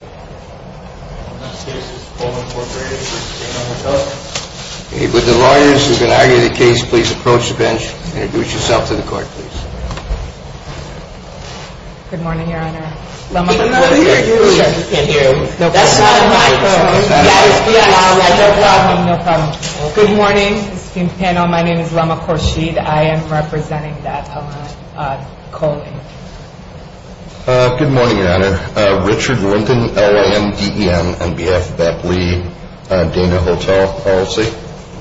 The next case is Cole, Inc. v. Dana Hotel, Inc. With the lawyers who are going to argue the case, please approach the bench. Introduce yourself to the court, please. Good morning, Your Honor. We can't hear you. That's not a microphone. No problem, no problem. Good morning, esteemed panel. My name is Lama Khorshid. I am representing that colony. Good morning, Your Honor. Richard Linton, L-A-M-D-E-N. On behalf of that plea, Dana Hotel, LLC.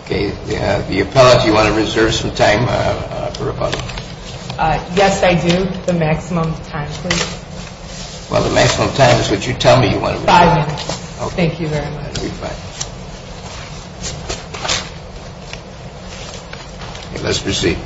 The appellate, do you want to reserve some time for rebuttal? Yes, I do. The maximum time, please. Well, the maximum time is what you tell me you want to reserve. Five minutes. Okay. Thank you very much. You'll be fine. Let's proceed.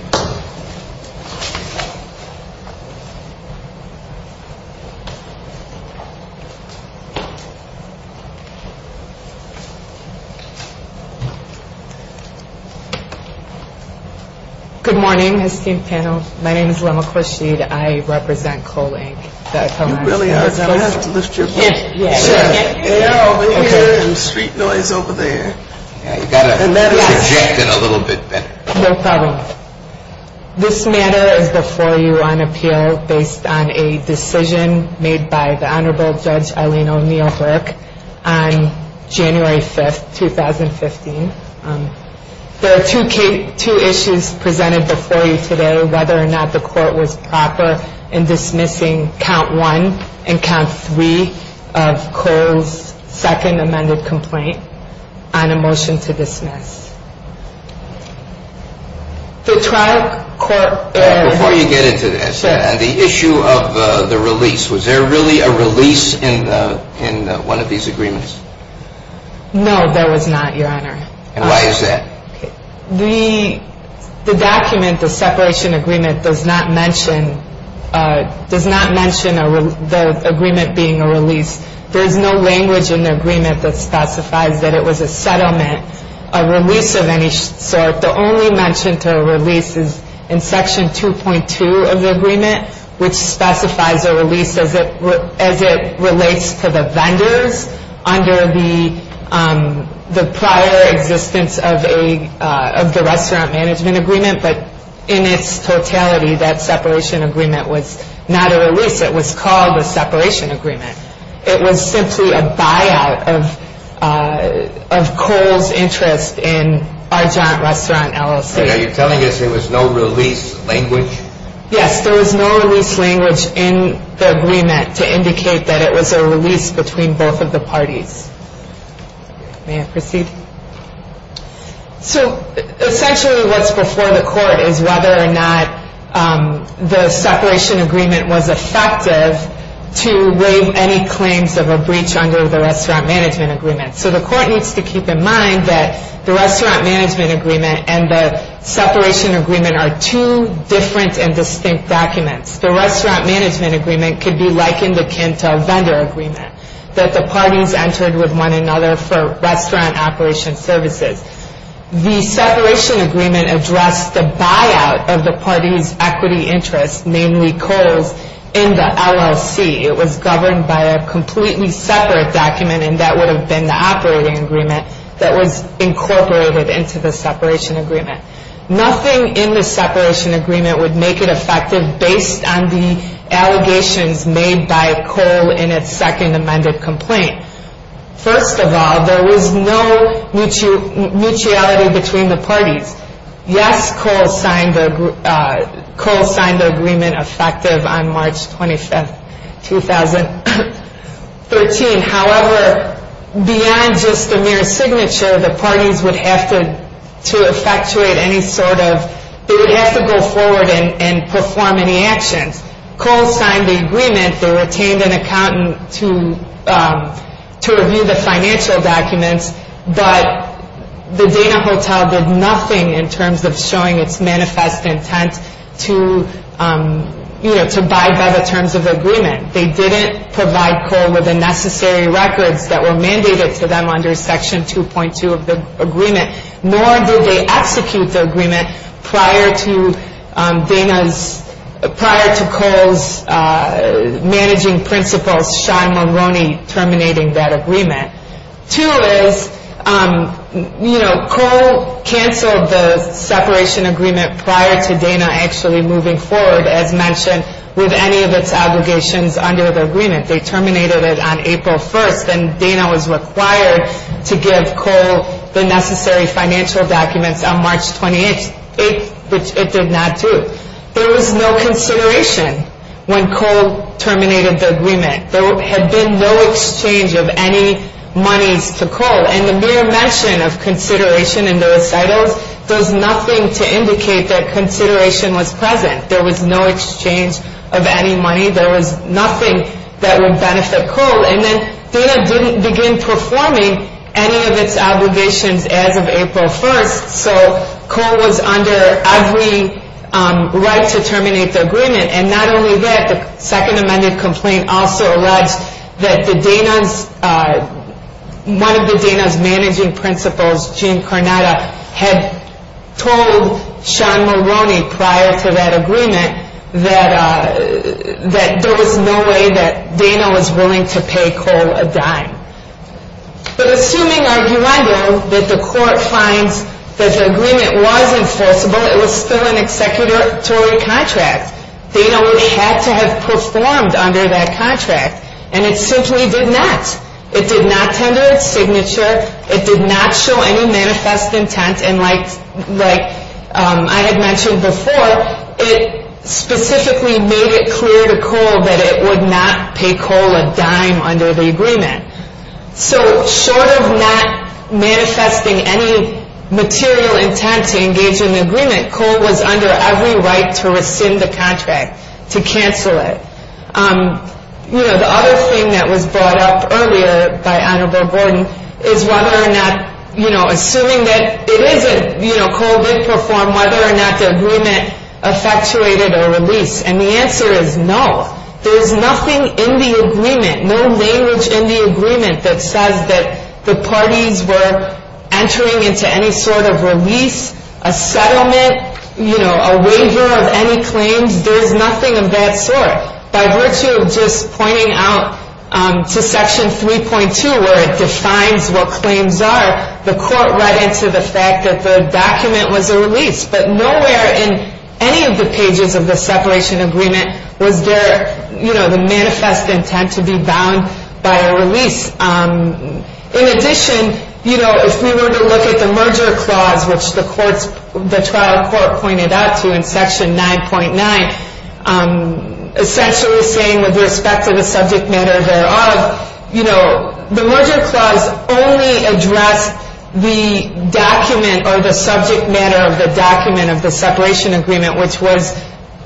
Good morning, esteemed panel. My name is Lama Khorshid. I represent Cole, Inc., that colony. You really are. I have to lift your voice. Yes, yes. I hear some street noise over there. You've got to project it a little bit better. No problem. This matter is before you on appeal based on a decision made by the Honorable Judge Eileen O'Neill Burke on January 5th, 2015. There are two issues presented before you today, whether or not the court was proper in dismissing count one and count three of Cole's second amended complaint on a motion to dismiss. The trial court – Before you get into this, the issue of the release, was there really a release in one of these agreements? No, there was not, Your Honor. And why is that? The document, the separation agreement, does not mention the agreement being a release. There is no language in the agreement that specifies that it was a settlement, a release of any sort. The only mention to a release is in section 2.2 of the agreement, which specifies a release as it relates to the vendors under the prior existence of the restaurant management agreement. But in its totality, that separation agreement was not a release. It was called a separation agreement. It was simply a buyout of Cole's interest in Argent Restaurant LLC. Are you telling us there was no release language? Yes, there was no release language in the agreement to indicate that it was a release between both of the parties. May I proceed? So essentially what's before the court is whether or not the separation agreement was effective to waive any claims of a breach under the restaurant management agreement. So the court needs to keep in mind that the restaurant management agreement and the separation agreement are two different and distinct documents. The restaurant management agreement could be likened akin to a vendor agreement that the parties entered with one another for restaurant operation services. The separation agreement addressed the buyout of the parties' equity interests, namely Cole's, in the LLC. It was governed by a completely separate document, and that would have been the operating agreement that was incorporated into the separation agreement. Nothing in the separation agreement would make it effective based on the allegations made by Cole in its second amended complaint. First of all, there was no mutuality between the parties. Yes, Cole signed the agreement effective on March 25, 2013. However, beyond just a mere signature, the parties would have to go forward and perform any actions. Cole signed the agreement. They retained an accountant to review the financial documents, but the Dana Hotel did nothing in terms of showing its manifest intent to abide by the terms of the agreement. They didn't provide Cole with the necessary records that were mandated to them under Section 2.2 of the agreement, nor did they execute the agreement prior to Dana's, prior to Cole's managing principal, Sean Mulroney, terminating that agreement. Two is, you know, Cole canceled the separation agreement prior to Dana actually moving forward, as mentioned, with any of its allegations under the agreement. They terminated it on April 1st, and Dana was required to give Cole the necessary financial documents on March 28th, which it did not do. There was no consideration when Cole terminated the agreement. There had been no exchange of any monies to Cole. And the mere mention of consideration in the recitals does nothing to indicate that consideration was present. There was no exchange of any money. There was nothing that would benefit Cole. And then Dana didn't begin performing any of its obligations as of April 1st, so Cole was under every right to terminate the agreement. And not only that, the Second Amendment complaint also alleged that the Dana's, one of the Dana's managing principals, Jim Carnada, had told Sean Mulroney prior to that agreement that there was no way that Dana was willing to pay Cole a dime. But assuming, arguendo, that the court finds that the agreement was enforceable, it was still an executory contract, Dana would have to have performed under that contract. And it simply did not. It did not tender its signature. It did not show any manifest intent. And like I had mentioned before, it specifically made it clear to Cole that it would not pay Cole a dime under the agreement. So short of not manifesting any material intent to engage in the agreement, Cole was under every right to rescind the contract, to cancel it. You know, the other thing that was brought up earlier by Annabelle Gordon is whether or not, you know, assuming that it isn't, you know, Cole did perform, whether or not the agreement effectuated a release. And the answer is no. There's nothing in the agreement, no language in the agreement that says that the parties were entering into any sort of release, a settlement, you know, a waiver of any claims. There's nothing of that sort. By virtue of just pointing out to Section 3.2 where it defines what claims are, the court read into the fact that the document was a release. But nowhere in any of the pages of the separation agreement was there, you know, the manifest intent to be bound by a release. In addition, you know, if we were to look at the merger clause, which the trial court pointed out to in Section 9.9, essentially saying with respect to the subject matter thereof, you know, the merger clause only addressed the document or the subject matter of the document of the separation agreement, which was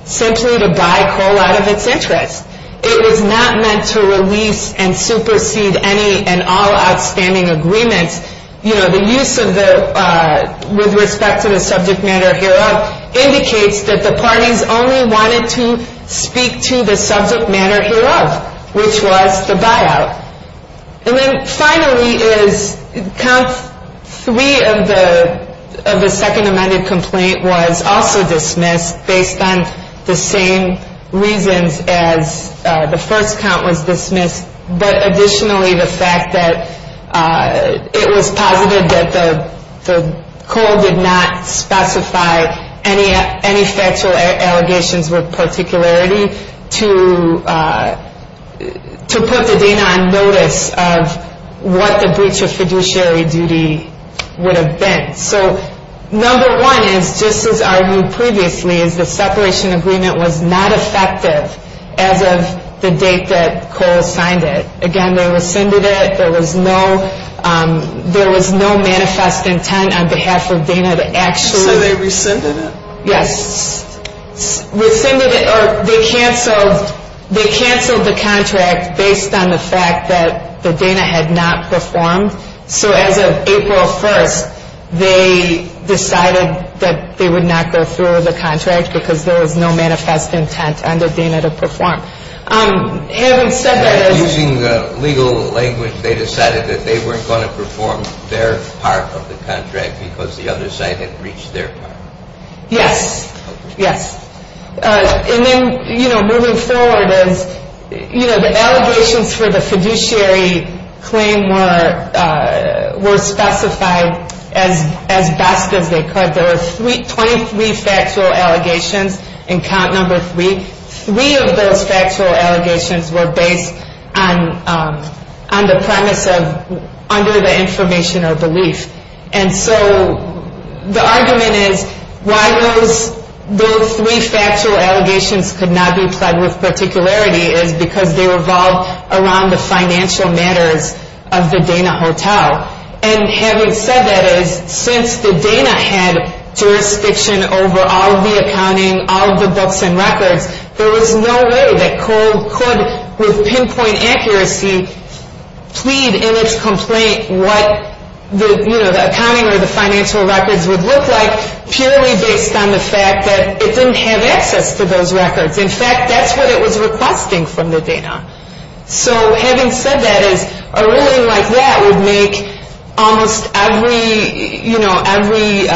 simply to buy Cole out of its interest. It was not meant to release and supersede any and all outstanding agreements. You know, the use of the, with respect to the subject matter hereof, indicates that the parties only wanted to speak to the subject matter hereof, which was the buyout. And then finally is count three of the second amended complaint was also dismissed based on the same reasons as the first count was dismissed. But additionally, the fact that it was posited that the Cole did not specify any factual allegations with particularity to put the data on notice of what the breach of fiduciary duty would have been. So number one is, just as argued previously, is the separation agreement was not effective as of the date that Cole signed it. Again, they rescinded it. There was no, there was no manifest intent on behalf of Dana to actually. So they rescinded it? Yes, rescinded it, or they canceled, they canceled the contract based on the fact that the Dana had not performed. So as of April 1st, they decided that they would not go through with the contract because there was no manifest intent under Dana to perform. Having said that is. Using the legal language, they decided that they weren't going to perform their part of the contract because the other side had reached their part. Yes, yes. And then, you know, moving forward is, you know, the allegations for the fiduciary claim were specified as best as they could. There were 23 factual allegations in count number three. Three of those factual allegations were based on the premise of under the information or belief. And so the argument is why those three factual allegations could not be pled with particularity is because they revolve around the financial matters of the Dana Hotel. And having said that is, since the Dana had jurisdiction over all of the accounting, all of the books and records, there was no way that COLE could, with pinpoint accuracy, plead in its complaint what the, you know, the accounting or the financial records would look like purely based on the fact that it didn't have access to those records. In fact, that's what it was requesting from the Dana. So having said that is, a ruling like that would make almost every, you know, every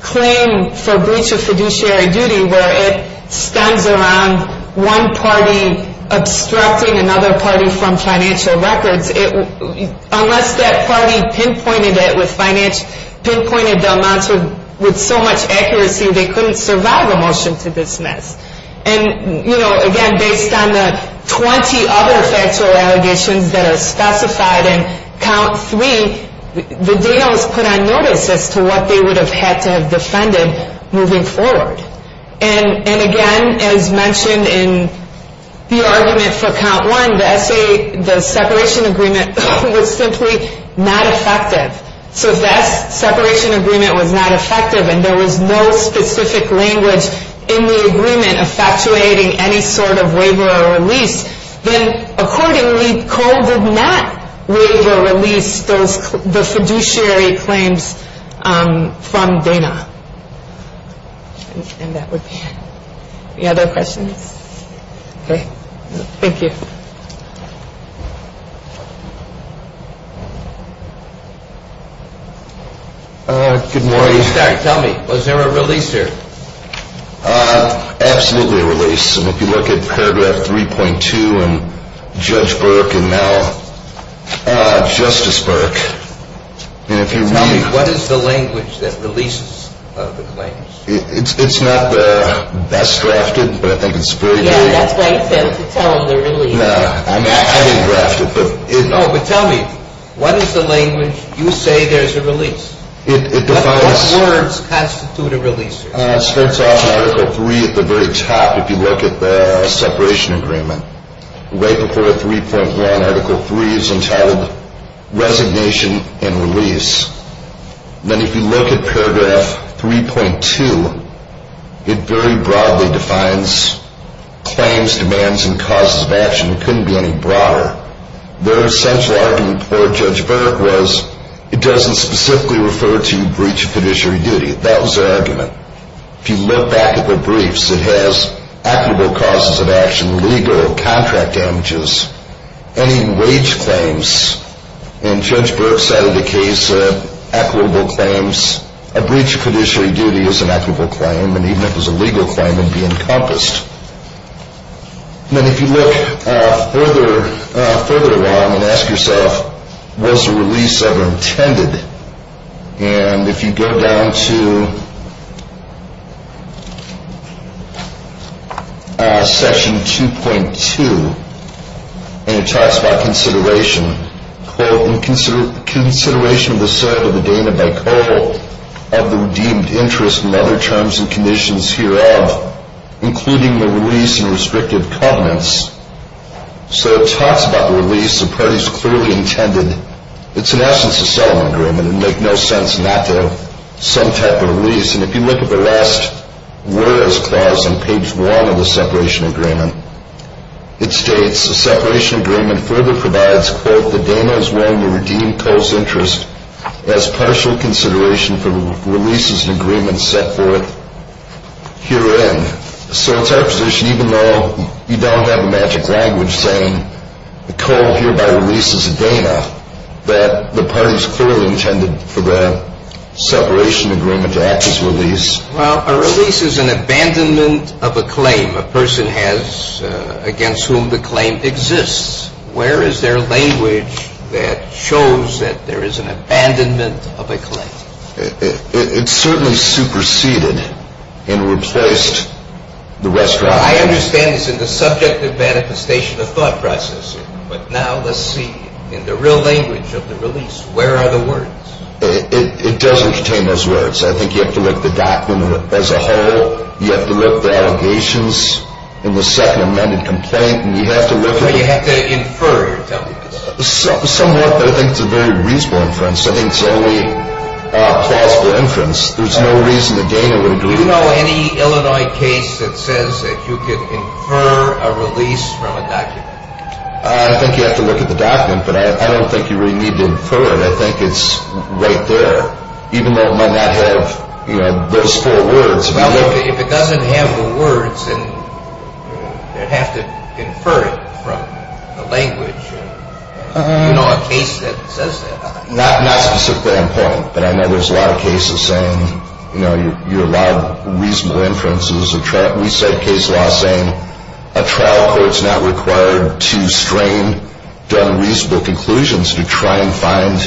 claim for breach of fiduciary duty where it stems around one party obstructing another party from financial records, unless that party pinpointed it with financial, pinpointed Del Monte with so much accuracy, they couldn't survive a motion to dismiss. And, you know, again, based on the 20 other factual allegations that are specified in count three, the Dana was put on notice as to what they would have had to have defended moving forward. And, again, as mentioned in the argument for count one, the separation agreement was simply not effective. So if that separation agreement was not effective and there was no specific language in the agreement effectuating any sort of waiver or release, then accordingly Cole did not waive or release the fiduciary claims from Dana. And that would be it. Any other questions? Okay. Thank you. Good morning. Tell me, was there a release here? Absolutely a release. And if you look at paragraph 3.2 and Judge Burke and now Justice Burke, and if you read. Tell me, what is the language that releases the claims? It's not the best drafted, but I think it's very good. Yeah, that's why you failed to tell him the release. No, I mean, I didn't draft it, but it. No, but tell me, what is the language you say there's a release? It defines. What words constitute a release? It starts off in Article 3 at the very top if you look at the separation agreement. Right before 3.1, Article 3 is entitled Resignation and Release. Then if you look at paragraph 3.2, it very broadly defines claims, demands, and causes of action. It couldn't be any broader. The essential argument for Judge Burke was it doesn't specifically refer to breach of fiduciary duty. That was her argument. If you look back at the briefs, it has equitable causes of action, legal, contract damages, any wage claims. And Judge Burke cited a case of equitable claims. A breach of fiduciary duty is an equitable claim, and even if it was a legal claim, it would be encompassed. And then if you look further along and ask yourself, was the release ever intended? And if you go down to Session 2.2, and it talks about consideration. Quote, in consideration of the serve of the Dana by coal, of the redeemed interest and other terms and conditions hereof, including the release and restrictive covenants. So it talks about the release, the parties clearly intended. It's in essence a settlement agreement. It would make no sense not to have some type of release. And if you look at the last whereas clause on page 1 of the separation agreement, it states the separation agreement further provides, quote, that Dana is willing to redeem coal's interest as partial consideration for releases and agreements set forth herein. So it's our position, even though you don't have a magic language saying the coal hereby releases Dana, that the parties clearly intended for the separation agreement to act as release. Well, a release is an abandonment of a claim a person has against whom the claim exists. Where is there language that shows that there is an abandonment of a claim? It certainly superseded and replaced the restaurant. I understand this in the subject of manifestation of thought process. But now let's see in the real language of the release, where are the words? It doesn't contain those words. I think you have to look at the document as a whole. You have to look at the allegations in the second amended complaint. You have to look at it. You have to infer. Somewhat, but I think it's a very reasonable inference. I think it's only a plausible inference. There's no reason that Dana would agree. Do you know any Illinois case that says that you could infer a release from a document? I think you have to look at the document, but I don't think you really need to infer it. I think it's right there, even though it might not have those four words. Well, if it doesn't have the words, then you'd have to infer it from the language. Do you know a case that says that? Not specifically on point, but I know there's a lot of cases saying you're allowed reasonable inferences. We cite case law saying a trial court's not required to strain done reasonable conclusions to try and find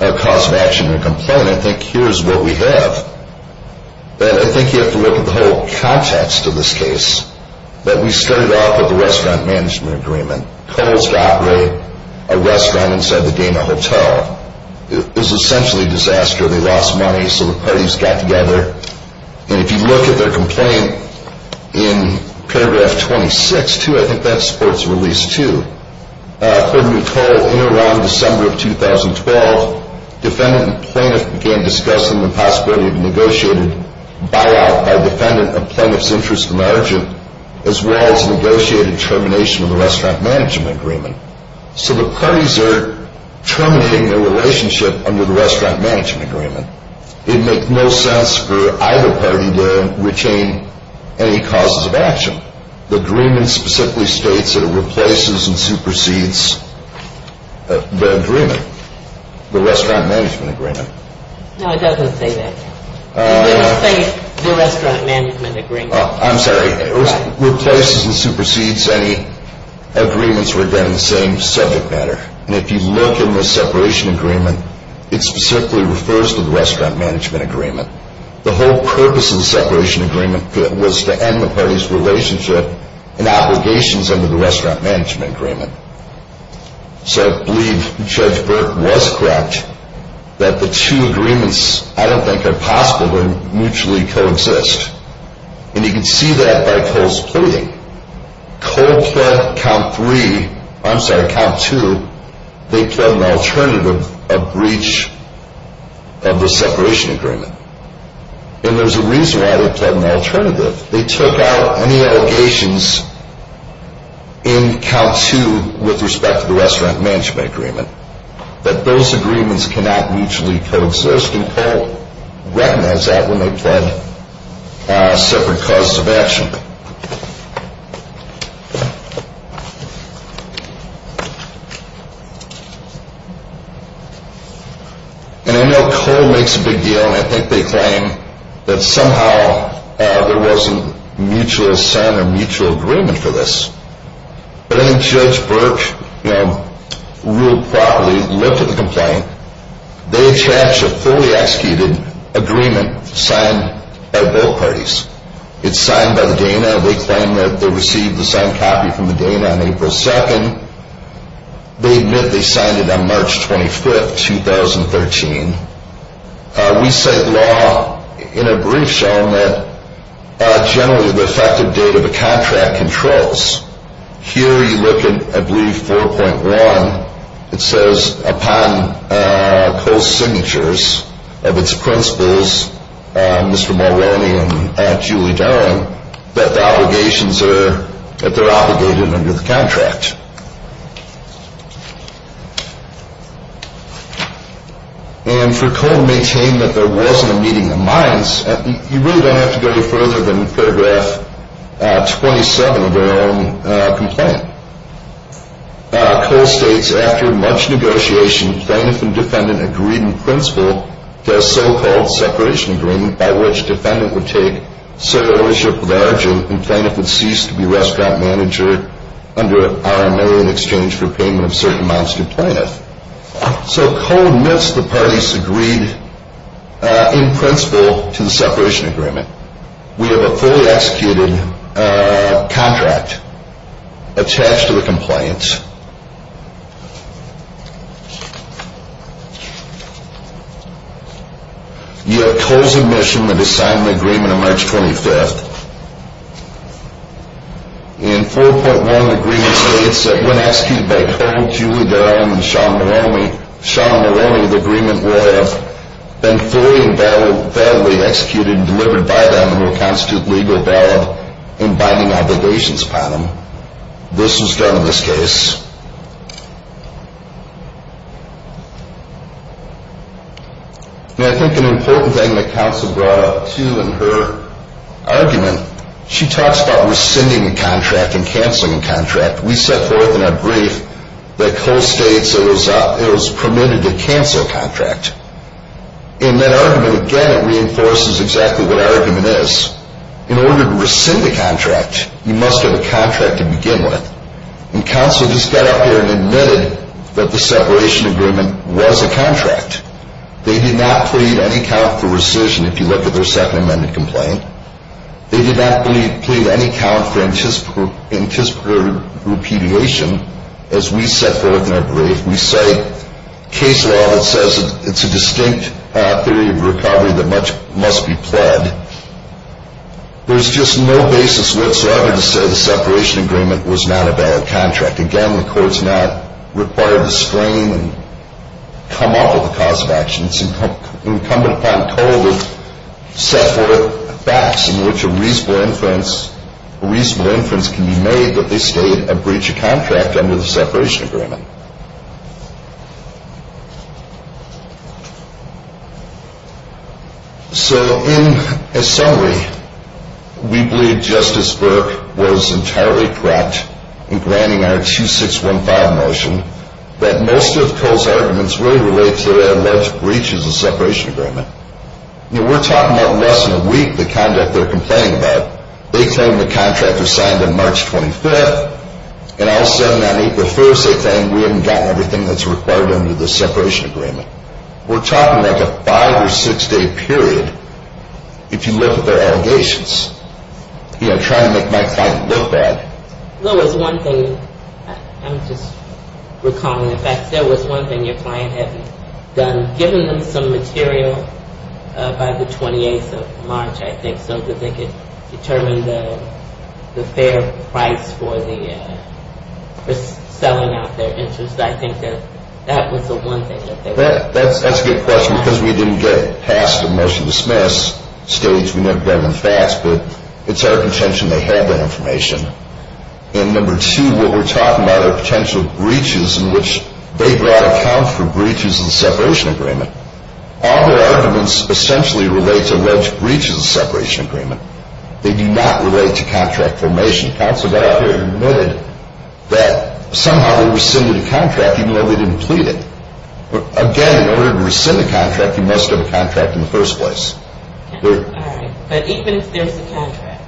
a cause of action in a complaint. I think here's what we have. I think you have to look at the whole context of this case. We started off with a restaurant management agreement. Coles to operate a restaurant inside the Dana Hotel. It was essentially a disaster. They lost money, so the parties got together. And if you look at their complaint in paragraph 26-2, I think that's sports release 2. According to Cole, in or around December of 2012, defendant and plaintiff began discussing the possibility of a negotiated buyout by a defendant of plaintiff's interest and margin, as well as negotiated termination of the restaurant management agreement. So the parties are terminating their relationship under the restaurant management agreement. It makes no sense for either party to retain any causes of action. The agreement specifically states that it replaces and supersedes the agreement, the restaurant management agreement. No, it doesn't say that. It doesn't say the restaurant management agreement. I'm sorry. It replaces and supersedes any agreements that were done in the same subject matter. And if you look in the separation agreement, it specifically refers to the restaurant management agreement. The whole purpose of the separation agreement was to end the parties' relationship and obligations under the restaurant management agreement. So I believe Judge Burke was correct that the two agreements, I don't think, are possible when mutually coexist. And you can see that by Cole's pleading. Cole pled count 3, I'm sorry, count 2. They pled an alternative of breach of the separation agreement. And there's a reason why they pled an alternative. They took out any allegations in count 2 with respect to the restaurant management agreement that those agreements cannot mutually coexist. And Cole recognizes that when they pled separate causes of action. And I know Cole makes a big deal, and I think they claim that somehow there wasn't mutual sin or mutual agreement for this. But I think Judge Burke ruled properly, looked at the complaint. They attached a fully executed agreement signed by both parties. It's signed by the Dana. They claim that they received the signed copy from the Dana on April 2nd. They admit they signed it on March 25th, 2013. We cite law in a brief shown that generally the effective date of a contract controls. Here you look at, I believe, 4.1. It says upon Cole's signatures of its principals, Mr. Mulroney and Julie Darling, that the obligations are, that they're obligated under the contract. And for Cole to maintain that there wasn't a meeting of minds, you really don't have to go any further than paragraph 27 of their own complaint. Cole states, after much negotiation, Plaintiff and Defendant agreed in principle to a so-called separation agreement, by which Defendant would take sole ownership of the origin, and Plaintiff would cease to be restaurant manager under RMA in exchange for payment of certain amounts to Plaintiff. So Cole admits the parties agreed in principle to the separation agreement. We have a fully executed contract attached to the compliance. You have Cole's admission that he signed an agreement on March 25th. In 4.1, the agreement states that when executed by Cole, Julie Darling, and Sean Mulroney, the agreement will have been fully and validly executed and delivered by them, and will constitute legal barrel in binding obligations upon them. This was done in this case. And I think an important thing that counsel brought up, too, in her argument, she talks about rescinding the contract and canceling the contract. We set forth in our brief that Cole states it was permitted to cancel a contract. In that argument, again, it reinforces exactly what our argument is. In order to rescind a contract, you must have a contract to begin with. And counsel just got up here and admitted that the separation agreement was a contract. They did not plead any count for rescission, if you look at their second amended complaint. They did not plead any count for anticipatory repudiation, as we set forth in our brief. We cite case law that says it's a distinct theory of recovery that must be pled. There's just no basis whatsoever to say the separation agreement was not a valid contract. Again, the court's not required to screen and come up with a cause of action. It's incumbent upon Cole to set forth facts in which a reasonable inference can be made that they state a breach of contract under the separation agreement. So, in summary, we believe Justice Burke was entirely correct in granting our 2615 motion that most of Cole's arguments really relate to alleged breaches of separation agreement. You know, we're talking about less than a week, the conduct they're complaining about. They claim the contract was signed on March 25th. And all of a sudden, on April 1st, they claim we haven't gotten everything that's required under the separation agreement. We're talking like a five or six day period, if you look at their allegations. You know, trying to make my client look bad. There was one thing I'm just recalling. In fact, there was one thing your client had done, given them some material by the 28th of March, I think, so that they could determine the fair price for selling out their interest. I think that that was the one thing that they were doing. That's a good question because we didn't get past the motion dismiss stage. But it's our contention they had that information. And number two, what we're talking about are potential breaches in which they brought accounts for breaches of separation agreement. All their arguments essentially relate to alleged breaches of separation agreement. They do not relate to contract formation accounts. But I think they admitted that somehow they rescinded a contract even though they didn't plead it. Again, in order to rescind a contract, you must have a contract in the first place. But even if there's a contract,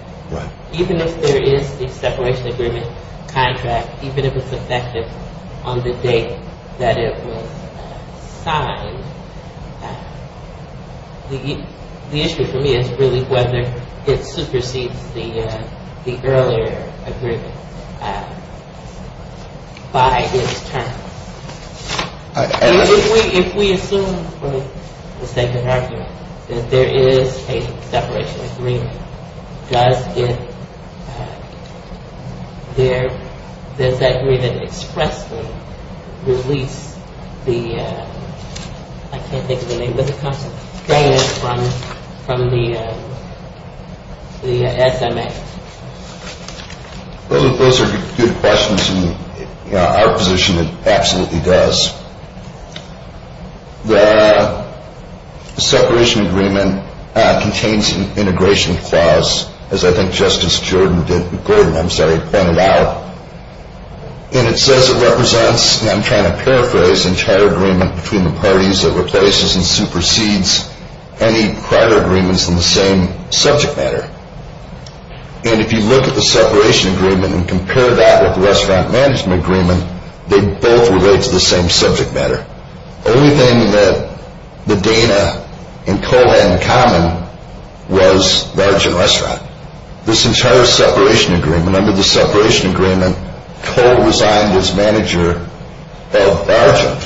even if there is a separation agreement contract, even if it's effective on the date that it was signed, the issue for me is really whether it supersedes the earlier agreement by its term. If we assume with the second argument that there is a separation agreement, does that agreement expressly release the, I can't think of the name of the company, from the SMA? Those are good questions. In our position, it absolutely does. The separation agreement contains an integration clause, as I think Justice Gordon pointed out. And it says it represents, and I'm trying to paraphrase, between the parties, it replaces and supersedes any prior agreements in the same subject matter. And if you look at the separation agreement and compare that with the restaurant management agreement, they both relate to the same subject matter. The only thing that Medina and Cole had in common was large and restaurant. This entire separation agreement, under the separation agreement, Cole resigned as manager of Argent.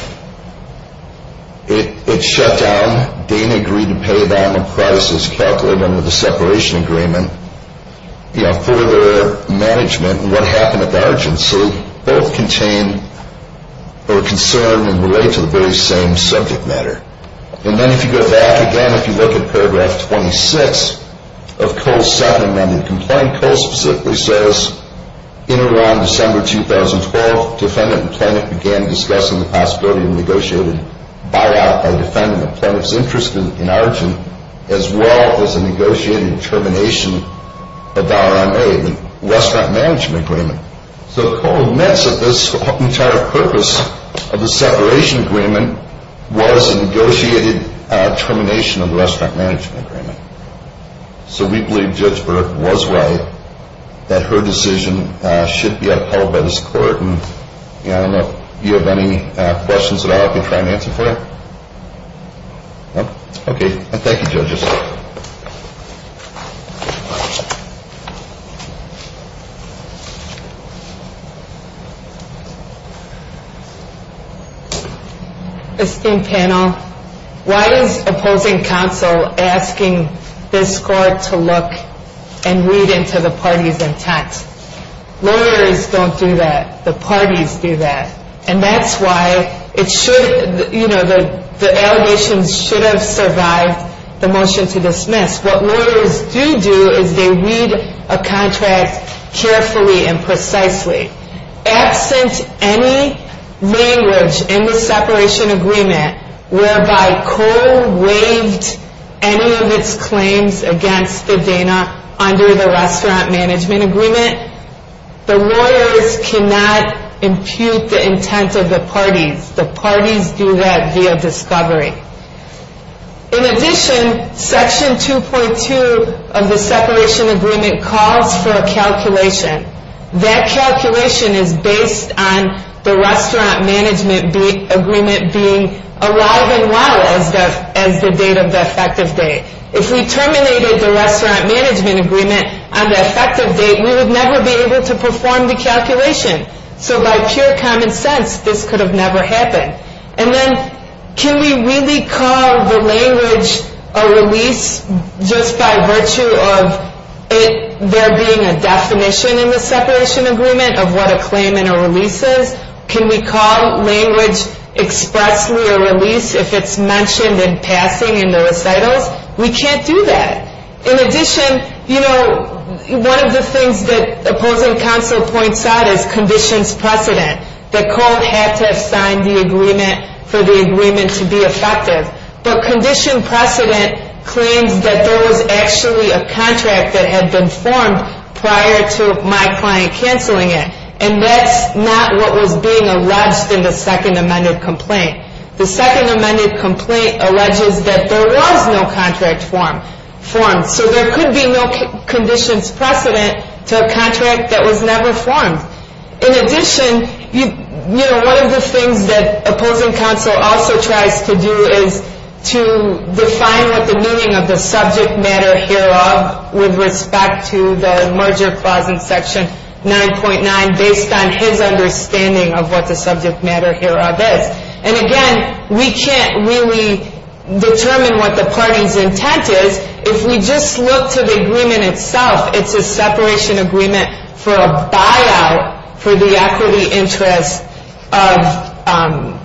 It shut down. Dana agreed to pay down the prices calculated under the separation agreement for their management. And what happened at Argent? So both contain or concern and relate to the very same subject matter. And then if you go back again, if you look at paragraph 26 of Cole's second amended complaint, Cole specifically says, in and around December 2012, defendant and plaintiff began discussing the possibility of a negotiated buyout by defendant and plaintiff's interest in Argent, as well as a negotiated termination of RMA, the restaurant management agreement. So Cole admits that this entire purpose of the separation agreement was a negotiated termination of the restaurant management agreement. So we believe Judge Burke was right, that her decision should be upheld by this court. And I don't know if you have any questions at all I can try and answer for you? No? Okay. Thank you, judges. Esteemed panel, why is opposing counsel asking this court to look and read into the parties intent? Lawyers don't do that. The parties do that. And that's why it should, you know, the allegations should have survived the motion to dismiss. What lawyers do do is they read a contract carefully and precisely. Absent any language in the separation agreement, whereby Cole waived any of its claims against the Dana under the restaurant management agreement, the lawyers cannot impute the intent of the parties. The parties do that via discovery. In addition, section 2.2 of the separation agreement calls for a calculation. That calculation is based on the restaurant management agreement being alive and well as the date of the effective date. If we terminated the restaurant management agreement on the effective date, we would never be able to perform the calculation. So by pure common sense, this could have never happened. And then can we really call the language a release just by virtue of there being a definition in the separation agreement of what a claim and a release is? Can we call language expressly a release if it's mentioned in passing in the recitals? We can't do that. In addition, you know, one of the things that opposing counsel points out is conditions precedent. That Cole had to have signed the agreement for the agreement to be effective. But condition precedent claims that there was actually a contract that had been formed prior to my client canceling it. And that's not what was being alleged in the second amended complaint. The second amended complaint alleges that there was no contract formed. So there could be no conditions precedent to a contract that was never formed. In addition, you know, one of the things that opposing counsel also tries to do is to define what the meaning of the subject matter hereof with respect to the merger clause in section 9.9 based on his understanding of what the subject matter hereof is. And again, we can't really determine what the party's intent is. If we just look to the agreement itself, it's a separation agreement for a buyout for the equity interest of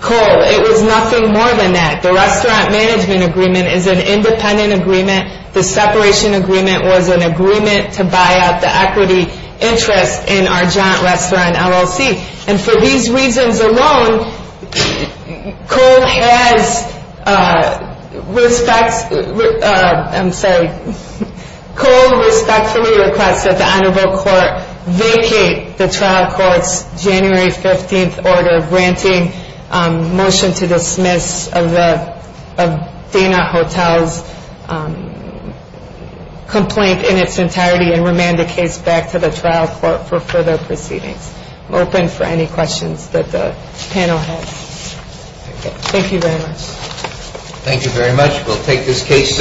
Cole. It was nothing more than that. The restaurant management agreement is an independent agreement. The separation agreement was an agreement to buy out the equity interest in our giant restaurant LLC. And for these reasons alone, Cole respectfully requests that the honorable court vacate the trial court's January 15th order granting motion to dismiss of Dana Hotel's complaint in its entirety and remand the case back to the trial court for further proceedings. I'm open for any questions that the panel has. Thank you very much. Thank you very much. We'll take this case under advisement and the court is adjourned.